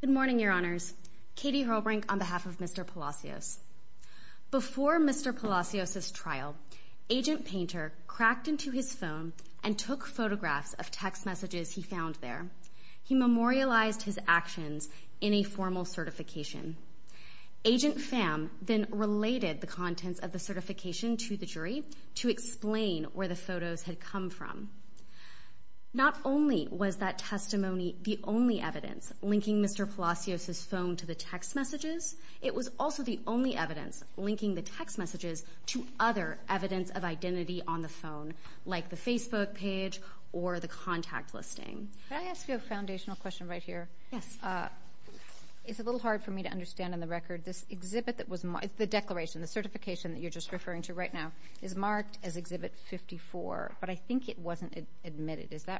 Good morning, your honors. Katie Hrolbrink on behalf of Mr. Palacios. Before Mr. Palacios's trial, Agent Painter cracked into his phone and took photographs of text messages he found there. He memorialized his actions in a formal certification. Agent Pham then related the Not only was that testimony the only evidence linking Mr. Palacios's phone to the text messages, it was also the only evidence linking the text messages to other evidence of identity on the phone, like the Facebook page or the contact listing. Can I ask you a foundational question right here? Yes. It's a little hard for me to understand on the record. This exhibit that was marked, the declaration, the certification that you're just referring to right now, is marked as that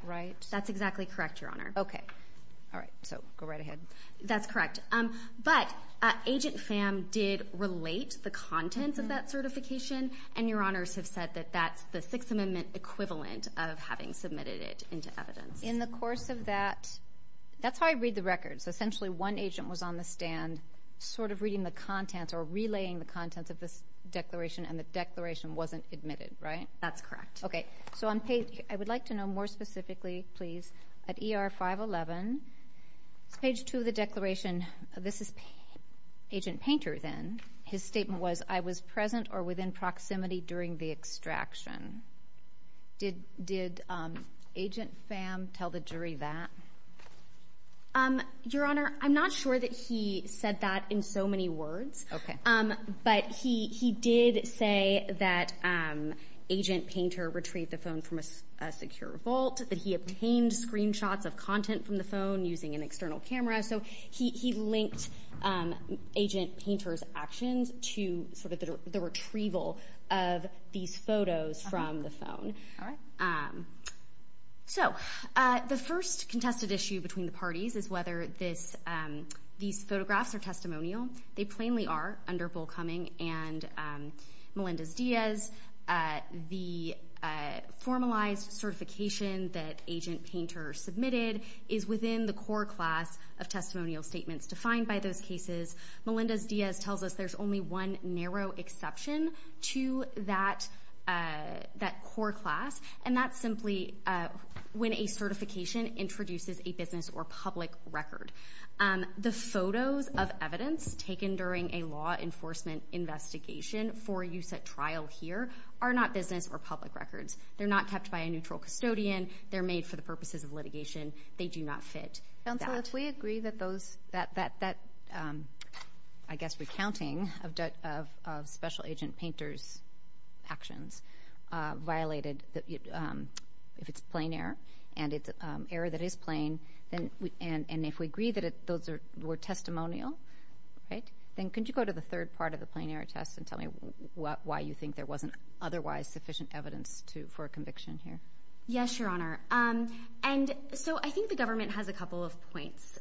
right? That's exactly correct, your honor. Okay. All right. So go right ahead. That's correct. But Agent Pham did relate the contents of that certification, and your honors have said that that's the Sixth Amendment equivalent of having submitted it into evidence. In the course of that, that's how I read the records. Essentially, one agent was on the stand sort of reading the contents or relaying the contents of this declaration, and the declaration wasn't admitted, right? That's correct. Okay. So I would like to know more specifically, please, at ER 511, page 2 of the declaration, this is Agent Painter then. His statement was, I was present or within proximity during the extraction. Did Agent Pham tell the jury that? Your honor, I'm not sure that he said that in so many words, but he did say that Agent Painter retrieved the phone from a secure vault, that he obtained screenshots of content from the phone using an external camera. So he linked Agent Painter's actions to sort of the retrieval of these photos from the phone. All right. So the first contested issue between the parties is whether these photographs are testimonial. They plainly are under Bullcoming and Melendez-Diaz. The formalized certification that Agent Painter submitted is within the core class of testimonial statements defined by those cases. Melendez-Diaz tells us there's only one narrow exception to that core class, and that's simply when a certification introduces a business or public record. The photos of evidence taken during a law enforcement investigation for use at trial here are not business or public records. They're not kept by a neutral custodian. They're made for the purposes of litigation. They do not fit that. Counsel, if we agree that those, that, I guess, recounting of Special Agent Painter's actions violated, if it's plain error, and it's error that is plain, and if we agree that those were testimonial, right, then could you go to the third part of the plain error test and tell me why you think there wasn't otherwise sufficient evidence for a conviction here? Yes, Your Honor. And so I think the government has a couple of points.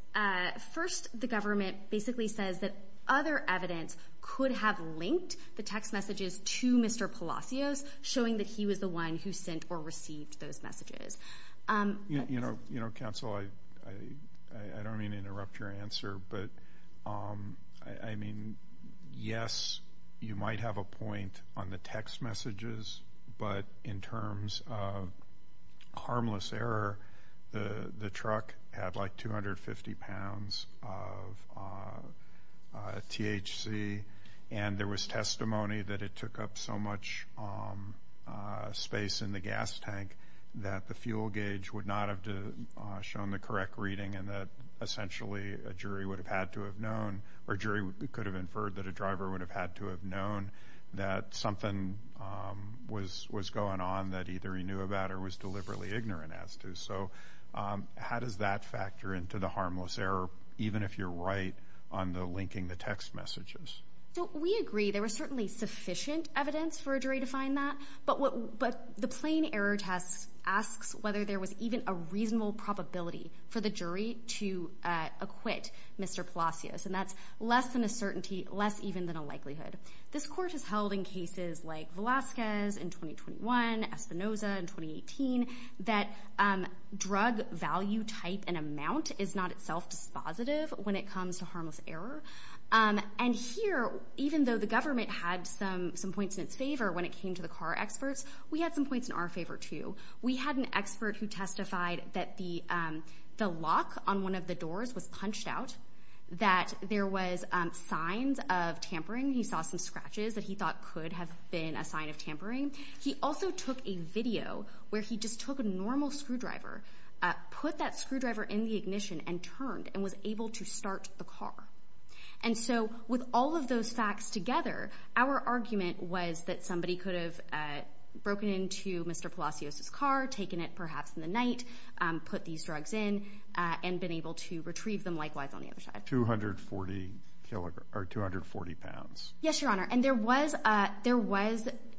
First, the government basically says that other evidence could have linked the text messages to Mr. Palacios, showing that he was the one who sent or received those messages. You know, Counsel, I don't mean to interrupt your answer, but, I mean, yes, you might have a point on the text messages, but in terms of harmless error, the truck had, like, 250 pounds of THC, and there was testimony that it took up so much space in the gas tank that the fuel gauge would not have shown the correct reading and that, essentially, a jury would have had to have known, or a jury could have inferred that a driver would have had to have known that something was going on that either he knew about or was deliberately ignorant as to. So how does that factor into the harmless error, even if you're right on the linking the text messages? So we agree there was certainly sufficient evidence for a jury to find that, but the plain error test asks whether there was even a reasonable probability for the jury to acquit Mr. Palacios, and that's less than a certainty, less even than a likelihood. This Court has drug value type and amount is not itself dispositive when it comes to harmless error. And here, even though the government had some points in its favor when it came to the car experts, we had some points in our favor, too. We had an expert who testified that the lock on one of the doors was punched out, that there was signs of tampering. He saw some scratches that he thought could have been a sign of tampering. He also took a video where he just took a normal screwdriver, put that screwdriver in the ignition, and turned and was able to start the car. And so with all of those facts together, our argument was that somebody could have broken into Mr. Palacios' car, taken it perhaps in the night, put these drugs in, and been able to retrieve them likewise on the other side. 240 pounds. Yes, Your Honor. And there was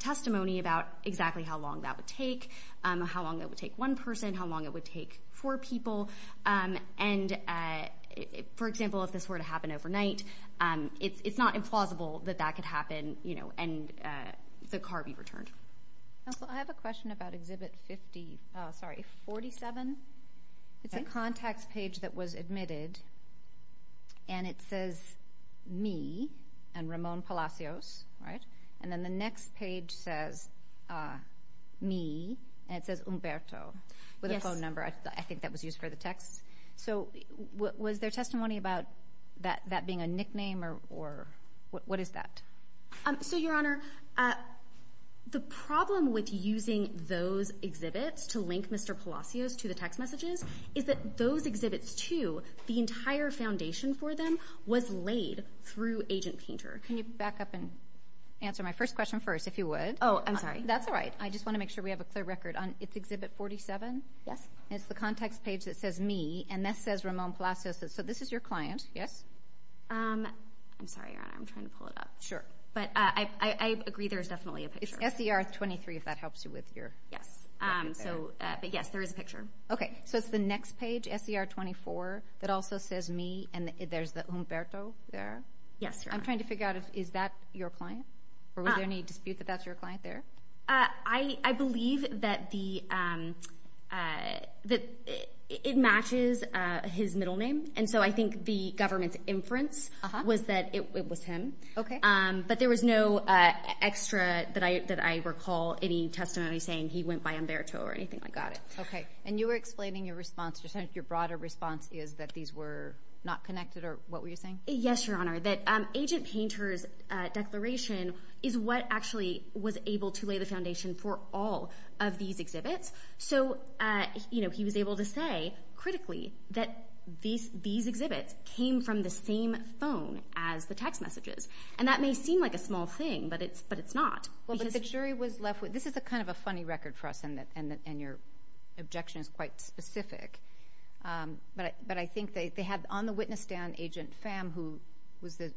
testimony about exactly how long that would take, how long it would take one person, how long it would take four people. And for example, if this were to happen overnight, it's not implausible that that could happen and the car be returned. Counsel, I have a question about Exhibit 47. It's a contacts page that was admitted, and it says, me, and Ramon Palacios, right? And then the next page says, me, and it says Umberto with a phone number. I think that was used for the text. So was there testimony about that being a nickname or what is that? So Your Honor, the problem with using those exhibits to link Mr. Palacios to the text messages is that those exhibits, too, the entire foundation for them was laid through Agent Painter. Can you back up and answer my first question first, if you would? Oh, I'm sorry. That's all right. I just want to make sure we have a clear record. It's Exhibit 47? Yes. It's the contacts page that says, me, and this says Ramon Palacios. So this is your client, yes? I'm sorry, Your Honor. I'm trying to pull it up. Sure. But I agree there's definitely a picture. It's SDR 23, if that helps you with your recognition. Yes. But yes, there is a picture. Okay. So it's the next page, SDR 24, that also says, me, and there's Umberto there? Yes, Your Honor. I'm trying to figure out, is that your client? Or was there any dispute that that's your client there? I believe that it matches his middle name. And so I think the government's inference was that it was him. But there was no extra that I recall any testimony saying he went by Umberto or anything like that. Got it. Okay. And you were explaining your response. Your broader response is that these were not connected, or what were you saying? Yes, Your Honor. That Agent Painter's declaration is what actually was able to lay the foundation for all of these exhibits. So, you know, he was able to say, critically, that these exhibits came from the same phone as the text messages. And that may seem like a small thing, but it's not. Well, but the jury was left with... This is a kind of a funny record for us, and your objection is quite specific. But I think they had on the witness stand, Agent Pham, who was the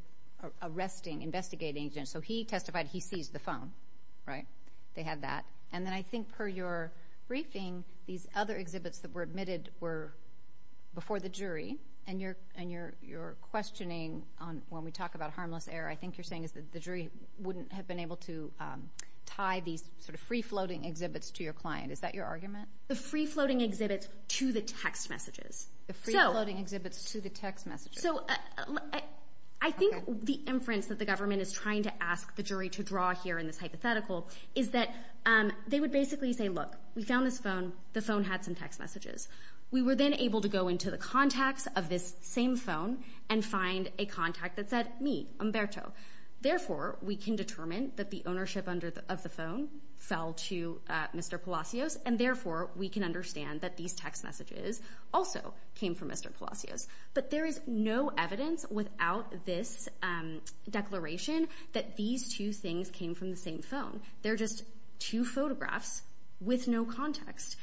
arresting, investigating agent. So he testified he seized the phone, right? They had that. And then I think, per your briefing, these other exhibits that were admitted were before the jury. And your questioning, when we talk about harmless error, I think you're saying that the jury wouldn't have been able to tie these sort of free-floating exhibits to your client. Is that your argument? The free-floating exhibits to the text messages. The free-floating exhibits to the text messages. So I think the inference that the government is trying to ask the jury to draw here in this hypothetical is that they would basically say, look, we found this phone. The phone had some text messages. We were then able to go into the contacts of this same phone and find a contact that said, me, Humberto. Therefore, we can determine that the ownership of the phone fell to Mr. Palacios, and therefore, we can understand that these text messages also came from Mr. Palacios. But there is no evidence without this declaration that these two things came from the same phone. They're just two photographs with no context.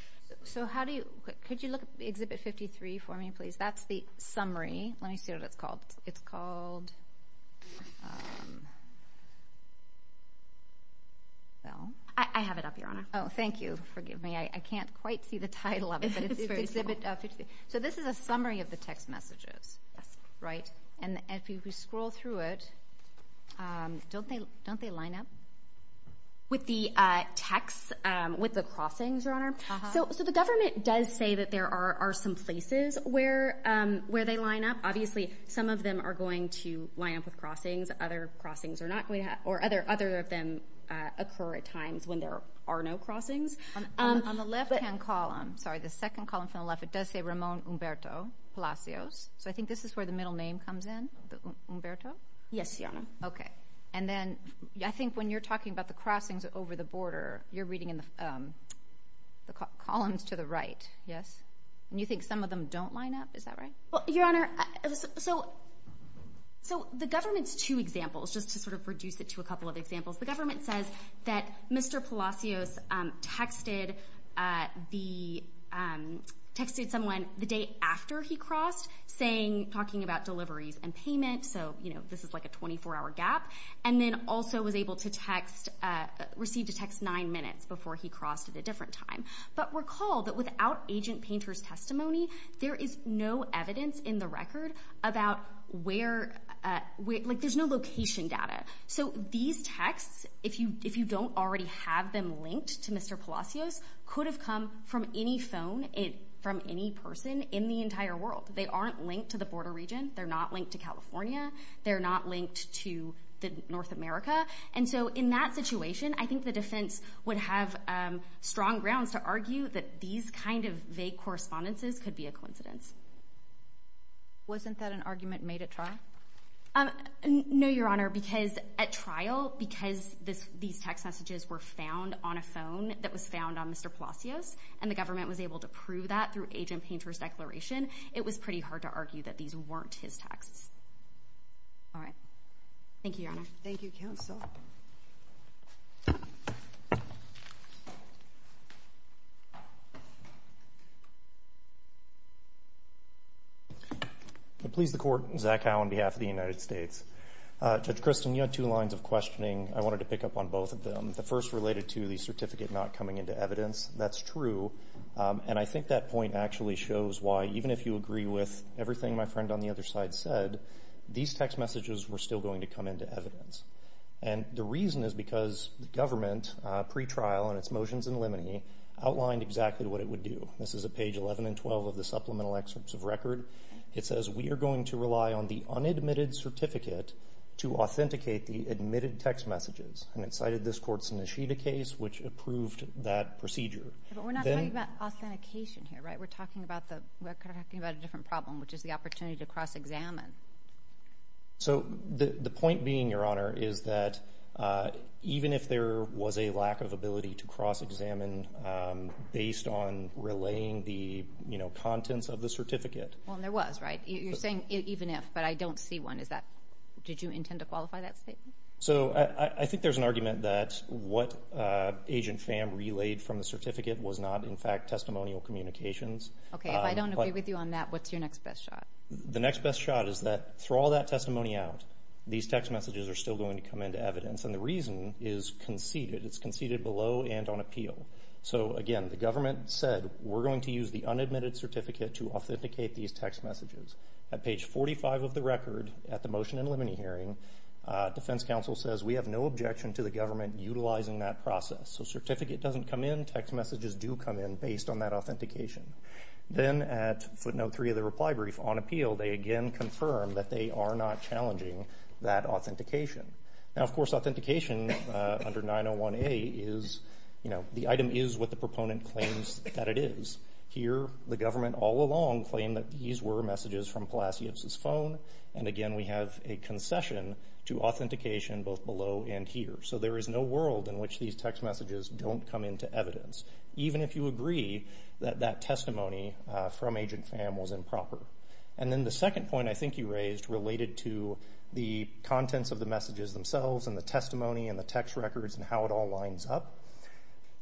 So could you look at Exhibit 53 for me, please? That's the summary. Let me see what it's called. I have it up, Your Honor. Oh, thank you. Forgive me. I can't quite see the title of it, but it's Exhibit 53. So this is a summary of the text messages, right? And if you scroll through it, don't they line up? With the text, with the crossings, Your Honor? So the government does say that there are some places where they line up. Obviously, some of them are going to line up with crossings. Other crossings are not going to happen, or other of them occur at times when there are no crossings. On the left-hand column, sorry, the second column from the left, it does say Ramon Humberto Palacios. So I think this is where the middle name comes in, Humberto? Yes, Your Honor. Okay. And then I think when you're talking about the crossings over the border, you're reading in the columns to the right, yes? And you think some of them don't line up? Is that right? Well, Your Honor, so the government's two examples, just to sort of reduce it to a couple of examples. The government says that Mr. Palacios texted someone the day after he crossed, talking about deliveries and payment, so this is like a 24-hour gap, and then also was able to receive a text nine minutes before he crossed at a different time. But recall that without agent Painter's testimony, there is no evidence in the record about where, like there's no location data. So these texts, if you don't already have them linked to Mr. Palacios, could have come from any phone, from any person in the entire world. They aren't linked to the border region. They're not linked to California. They're not linked to North America. And so in that situation, I think the defense would have strong grounds to argue that these kind of vague correspondences could be a coincidence. Wasn't that an argument made at trial? No, Your Honor, because at trial, because these text messages were found on a phone that was found on Mr. Palacios, and the government was able to prove that through agent Painter's declaration, it was pretty hard to argue that these weren't his texts. All right. Thank you, Your Honor. Thank you, counsel. Please the Court, Zach Howe on behalf of the United States. Judge Christin, you had two lines of questioning I wanted to pick up on both of them. The first related to the certificate not coming into evidence. That's true. And I think that point actually shows why, even if you agree with everything my friend on the other side said, these text messages were still going to come into evidence. And the reason is because the government, pre-trial on its motions in limine, outlined exactly what it would do. This is at page 11 and 12 of the supplemental excerpts of record. It says, we are going to rely on the unadmitted certificate to authenticate the admitted text messages. And it cited this court's case which approved that procedure. But we're not talking about authentication here, right? We're talking about a different problem, which is the opportunity to cross-examine. So the point being, Your Honor, is that even if there was a lack of ability to cross-examine based on relaying the, you know, contents of the certificate. Well, there was, right? You're saying even if, but I don't see one. Is that, did you intend to qualify that statement? So I think there's an argument that what Agent Pham relayed from the certificate was not, in fact, testimonial communications. Okay, if I don't agree with you on that, what's your next best shot? The next best shot is that through all that testimony out, these text messages are still going to come into evidence. And the reason is conceded. It's conceded below and on appeal. So again, the government said, we're going to use the unadmitted certificate to authenticate these text messages. At page 45 of the record, at the motion in limine hearing, defense counsel says, we have no objection to the government utilizing that process. So certificate doesn't come in. Text messages do come in based on that authentication. Then at footnote three of the reply brief, on appeal, they again confirm that they are not challenging that authentication. Now, of course, authentication under 901A is, you know, the item is what the proponent claims that it is. Here, the government all along claimed that these were a concession to authentication both below and here. So there is no world in which these text messages don't come into evidence, even if you agree that that testimony from Agent Pham was improper. And then the second point I think you raised related to the contents of the messages themselves and the testimony and the text records and how it all lines up,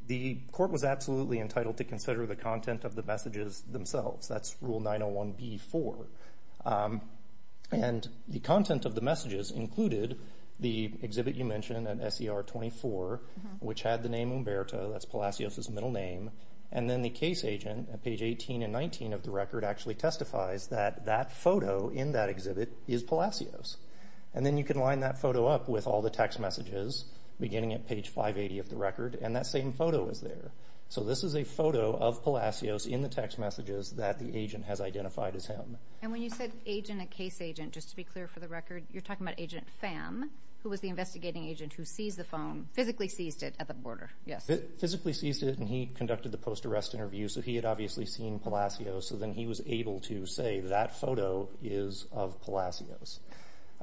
the court was absolutely entitled to consider the content of the messages themselves. That's rule 901B-4. And the content of the messages included the exhibit you mentioned at SER 24, which had the name Umberto. That's Palacios's middle name. And then the case agent at page 18 and 19 of the record actually testifies that that photo in that exhibit is Palacios. And then you can line that photo up with all the text messages, beginning at page 580 of the record, and that same photo is there. So this is a photo of Palacios in the text messages that the agent has identified as him. And when you said agent and case agent, just to be clear for the record, you're talking about Agent Pham, who was the investigating agent who seized the phone, physically seized it at the border. Yes. Physically seized it and he conducted the post-arrest interview. So he had obviously seen Palacios. So then he was able to say that photo is of Palacios.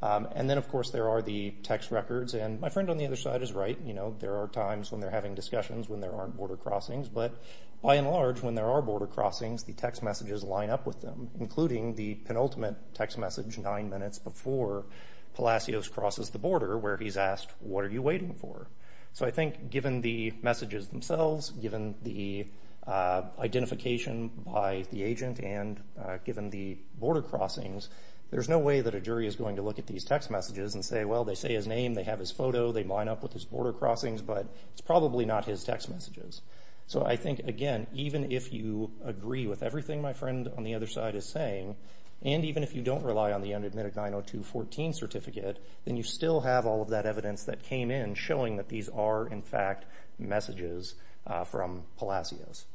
And then of course there are the text records. And my friend on the other side is right. You know, there are times when they're having discussions when there aren't border crossings. But by and large, when there are border crossings, the text messages line up with them, including the penultimate text message nine minutes before Palacios crosses the border where he's asked, what are you waiting for? So I think given the messages themselves, given the identification by the agent, and given the border crossings, there's no way that a jury is going to look at these text messages and say, well, they say his name, they have his photo, they line up with his border crossings, but it's probably not his text messages. So I think, again, even if you agree with everything my friend on the other side is saying, and even if you don't rely on the unadmitted 902.14 certificate, then you still have all of that evidence that came in showing that these are, in fact, messages from Palacios.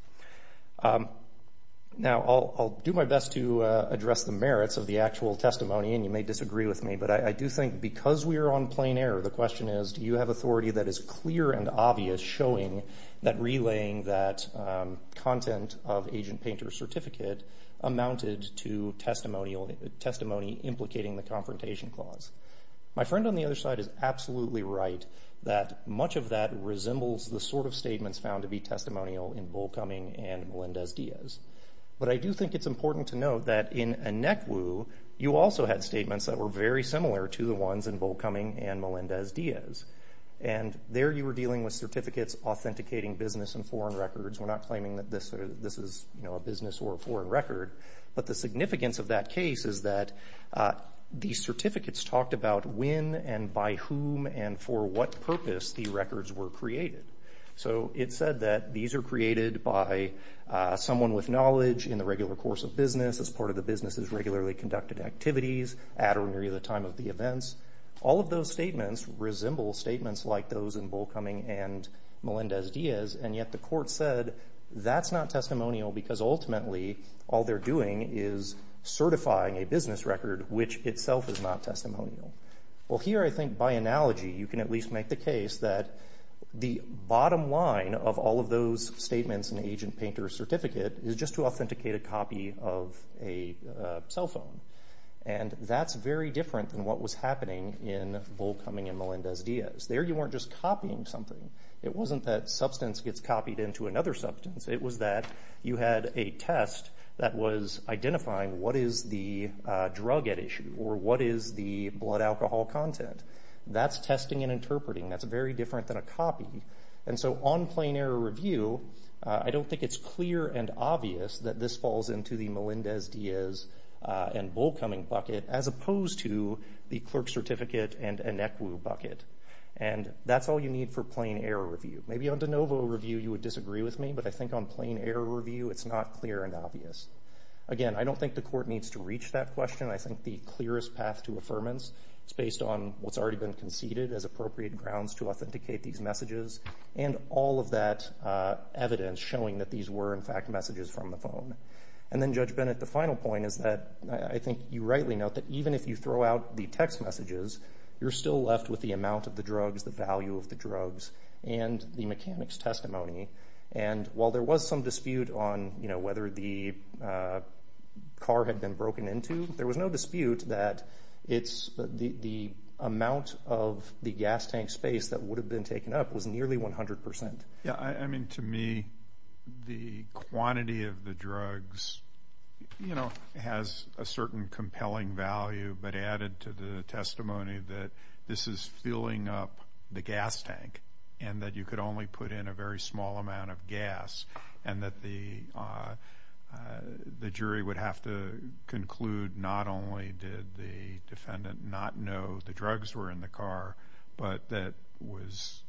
Now, I'll do my best to address the merits of the actual testimony, and you may disagree with me, but I do think because we are on plain air, the question is, do you have authority that is clear and obvious showing that relaying that content of Agent Painter's certificate amounted to testimony implicating the confrontation clause? My friend on the other side is absolutely right that much of that resembles the sort of statements found to be testimonial in Volkoming and Melendez-Diaz. But I do think it's important to note that in ANECWU, you also had statements that were very similar to the ones in Volkoming and Melendez-Diaz. And there you were dealing with certificates authenticating business and foreign records. We're not claiming that this is a business or a foreign record, but the significance of that case is that these certificates talked about when and by whom and for what purpose the records were created. So it said that these are created by someone with knowledge in the regular course of business, as part of the business's regularly conducted activities, at or near the time of the events. All of those statements resemble statements like those in Volkoming and Melendez-Diaz, and yet the court said that's not testimonial because ultimately all they're doing is certifying a business record which itself is not testimonial. Well, here I think by analogy, you can at least make the case that the bottom line of all of those statements in Agent Painter's certificate is just to authenticate a copy of a cell phone. And that's very different than what was happening in Volkoming and Melendez-Diaz. There you weren't just copying something. It wasn't that substance gets copied into another substance. It was that you had a test that was identifying what is the drug at issue or what is the blood alcohol content. That's testing and interpreting. That's very different than a copy. And so on plain error review, I don't think it's clear and obvious that this falls into the Melendez-Diaz and Volkoming bucket, as opposed to the clerk's certificate and Inequa bucket. And that's all you need for plain error review. Maybe on de novo review you would disagree with me, but I think on plain error review it's not clear and obvious. Again, I don't think the court needs to reach that question. I think the clearest path to affirmance is based on what's already been conceded as appropriate grounds to authenticate these were in fact messages from the phone. And then Judge Bennett, the final point is that I think you rightly note that even if you throw out the text messages, you're still left with the amount of the drugs, the value of the drugs, and the mechanic's testimony. And while there was some dispute on whether the car had been broken into, there was no dispute that the amount of the gas tank space that would have been taken up was nearly 100%. Yeah, I mean, to me, the quantity of the drugs, you know, has a certain compelling value, but added to the testimony that this is filling up the gas tank, and that you could only put in a very small amount of gas, and that the jury would have to conclude not only did the defendant not know the drugs were in the car, but that was,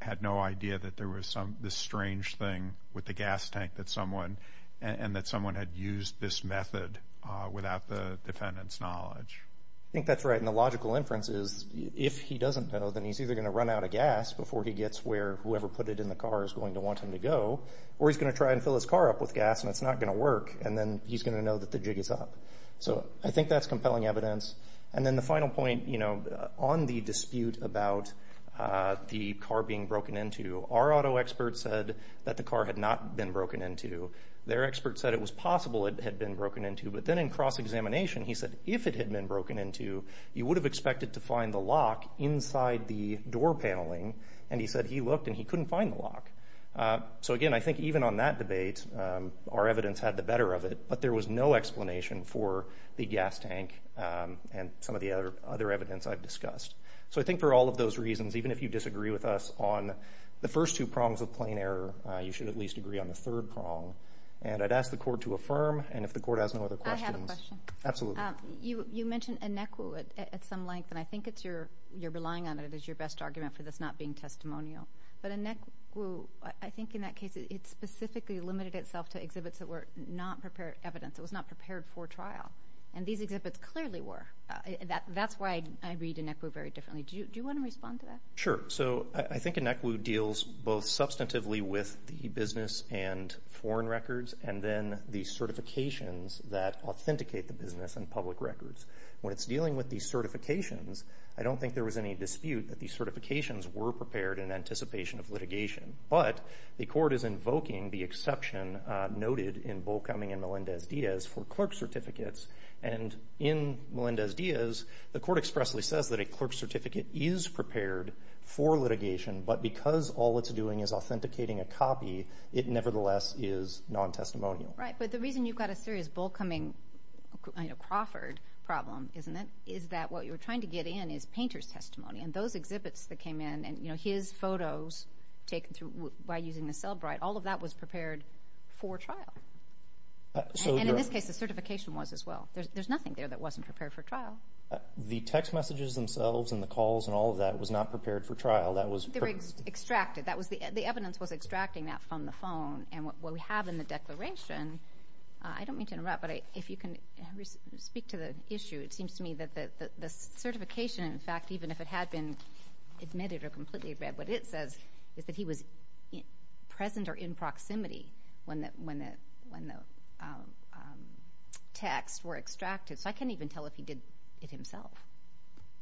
had no idea that there was some, this strange thing with the gas tank that someone, and that someone had used this method without the defendant's knowledge. I think that's right, and the logical inference is if he doesn't know, then he's either going to run out of gas before he gets where whoever put it in the car is going to want him to go, or he's going to try and fill his car up with the jiggies up. So I think that's compelling evidence. And then the final point, you know, on the dispute about the car being broken into, our auto experts said that the car had not been broken into. Their experts said it was possible it had been broken into, but then in cross-examination, he said if it had been broken into, you would have expected to find the lock inside the door paneling, and he said he looked and he couldn't find the lock. So again, I think even on that debate, our evidence had the better of it, but there was no explanation for the gas tank and some of the other evidence I've discussed. So I think for all of those reasons, even if you disagree with us on the first two prongs of plain error, you should at least agree on the third prong. And I'd ask the court to affirm, and if the court has no other questions. I have a question. Absolutely. You mentioned anequo at some length, and I think it's your, you're relying on it as your best argument for this not being testimonial. But anequo, I think in that case, it's specifically limited itself to exhibits that were not prepared evidence. It was not prepared for trial, and these exhibits clearly were. That's why I read anequo very differently. Do you want to respond to that? Sure. So I think anequo deals both substantively with the business and foreign records, and then the certifications that authenticate the business and public records. When it's dealing with these certifications, I don't think there was any dispute that these certifications were prepared in anticipation of litigation. But the court is invoking the exception noted in Bullcoming and Melendez-Diaz for clerk certificates. And in Melendez-Diaz, the court expressly says that a clerk certificate is prepared for litigation, but because all it's doing is authenticating a copy, it nevertheless is non-testimonial. Right. But the reason you've got a serious Bullcoming, Crawford problem, isn't it, is that what you're trying to get in is painter's testimony. And those exhibits that came in, and his photos taken by using the cell bright, all of that was prepared for trial. And in this case, the certification was as well. There's nothing there that wasn't prepared for trial. The text messages themselves and the calls and all of that was not prepared for trial. They were extracted. The evidence was extracting that from the phone. And what we have in the declaration, I don't mean to interrupt, but if you can speak to the issue, it seems to me that the certification, in fact, even if it had been admitted or completely read, what it says is that he was present or in proximity when the texts were extracted. So I can't even tell if he did it himself.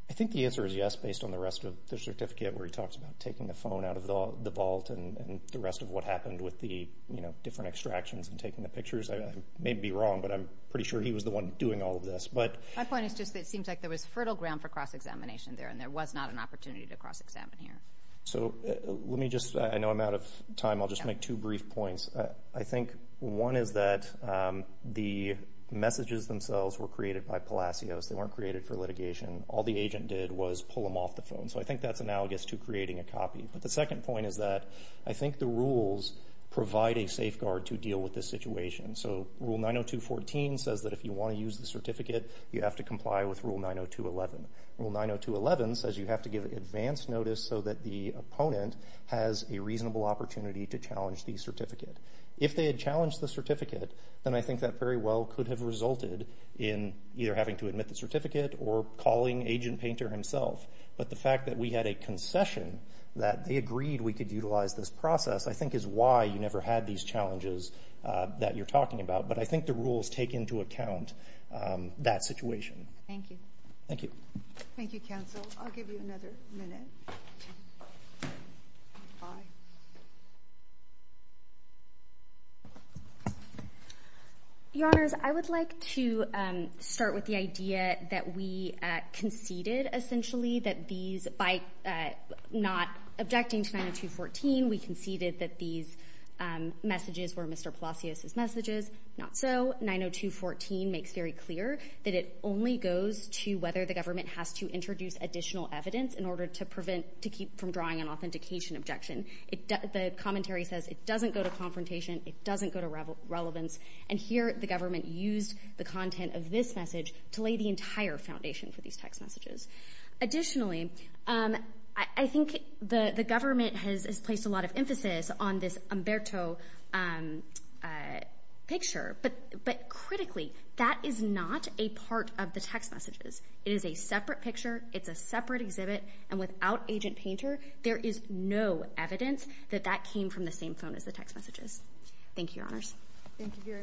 I think the answer is yes, based on the rest of the certificate where he talks about taking the phone out of the vault and the rest of what happened with the different extractions and taking the pictures. I may be wrong, but I'm pretty sure he was the one doing all of this. My point is just that it seems like there was fertile ground for cross-examination there, and there was not an opportunity to cross-examine here. So let me just, I know I'm out of time. I'll just make two brief points. I think one is that the messages themselves were created by Palacios. They weren't created for litigation. All the agent did was pull them off the phone. So I think that's analogous to creating a copy. But the second point is that I think the rules provide a safeguard to deal with this situation. So Rule 902.14 says that if you want to use the certificate, you have to comply with Rule 902.11. Rule 902.11 says you have to give advance notice so that the opponent has a reasonable opportunity to challenge the certificate. If they had challenged the certificate, then I think that very well could have resulted in either having to admit the certificate or calling Agent Painter himself. But the fact that we had a concession, that they agreed we could utilize this process, I think is why you never had these challenges that you're talking about. But I think the rules take into account that situation. Thank you. Thank you. Thank you, counsel. I'll give you another minute. Your Honors, I would like to start with the idea that we conceded, essentially, that these, by not objecting to 902.14, we conceded that these messages were Mr. Palacios's messages. Not so. 902.14 makes very clear that it only goes to whether the government has to introduce additional evidence in order to prevent, to keep from drawing an authentication objection. The commentary says it doesn't go to confrontation. It doesn't go to relevance. And here, the government used the content of this message to lay the entire foundation for these text messages. Additionally, I think the government has placed a lot of emphasis on this Umberto picture. But critically, that is not a part of the text messages. It is a separate picture. It's a separate exhibit. And without Agent Painter, there is no evidence that that came from the same phone as the text messages. Thank you, Your Honors. Thank you very much, counsel.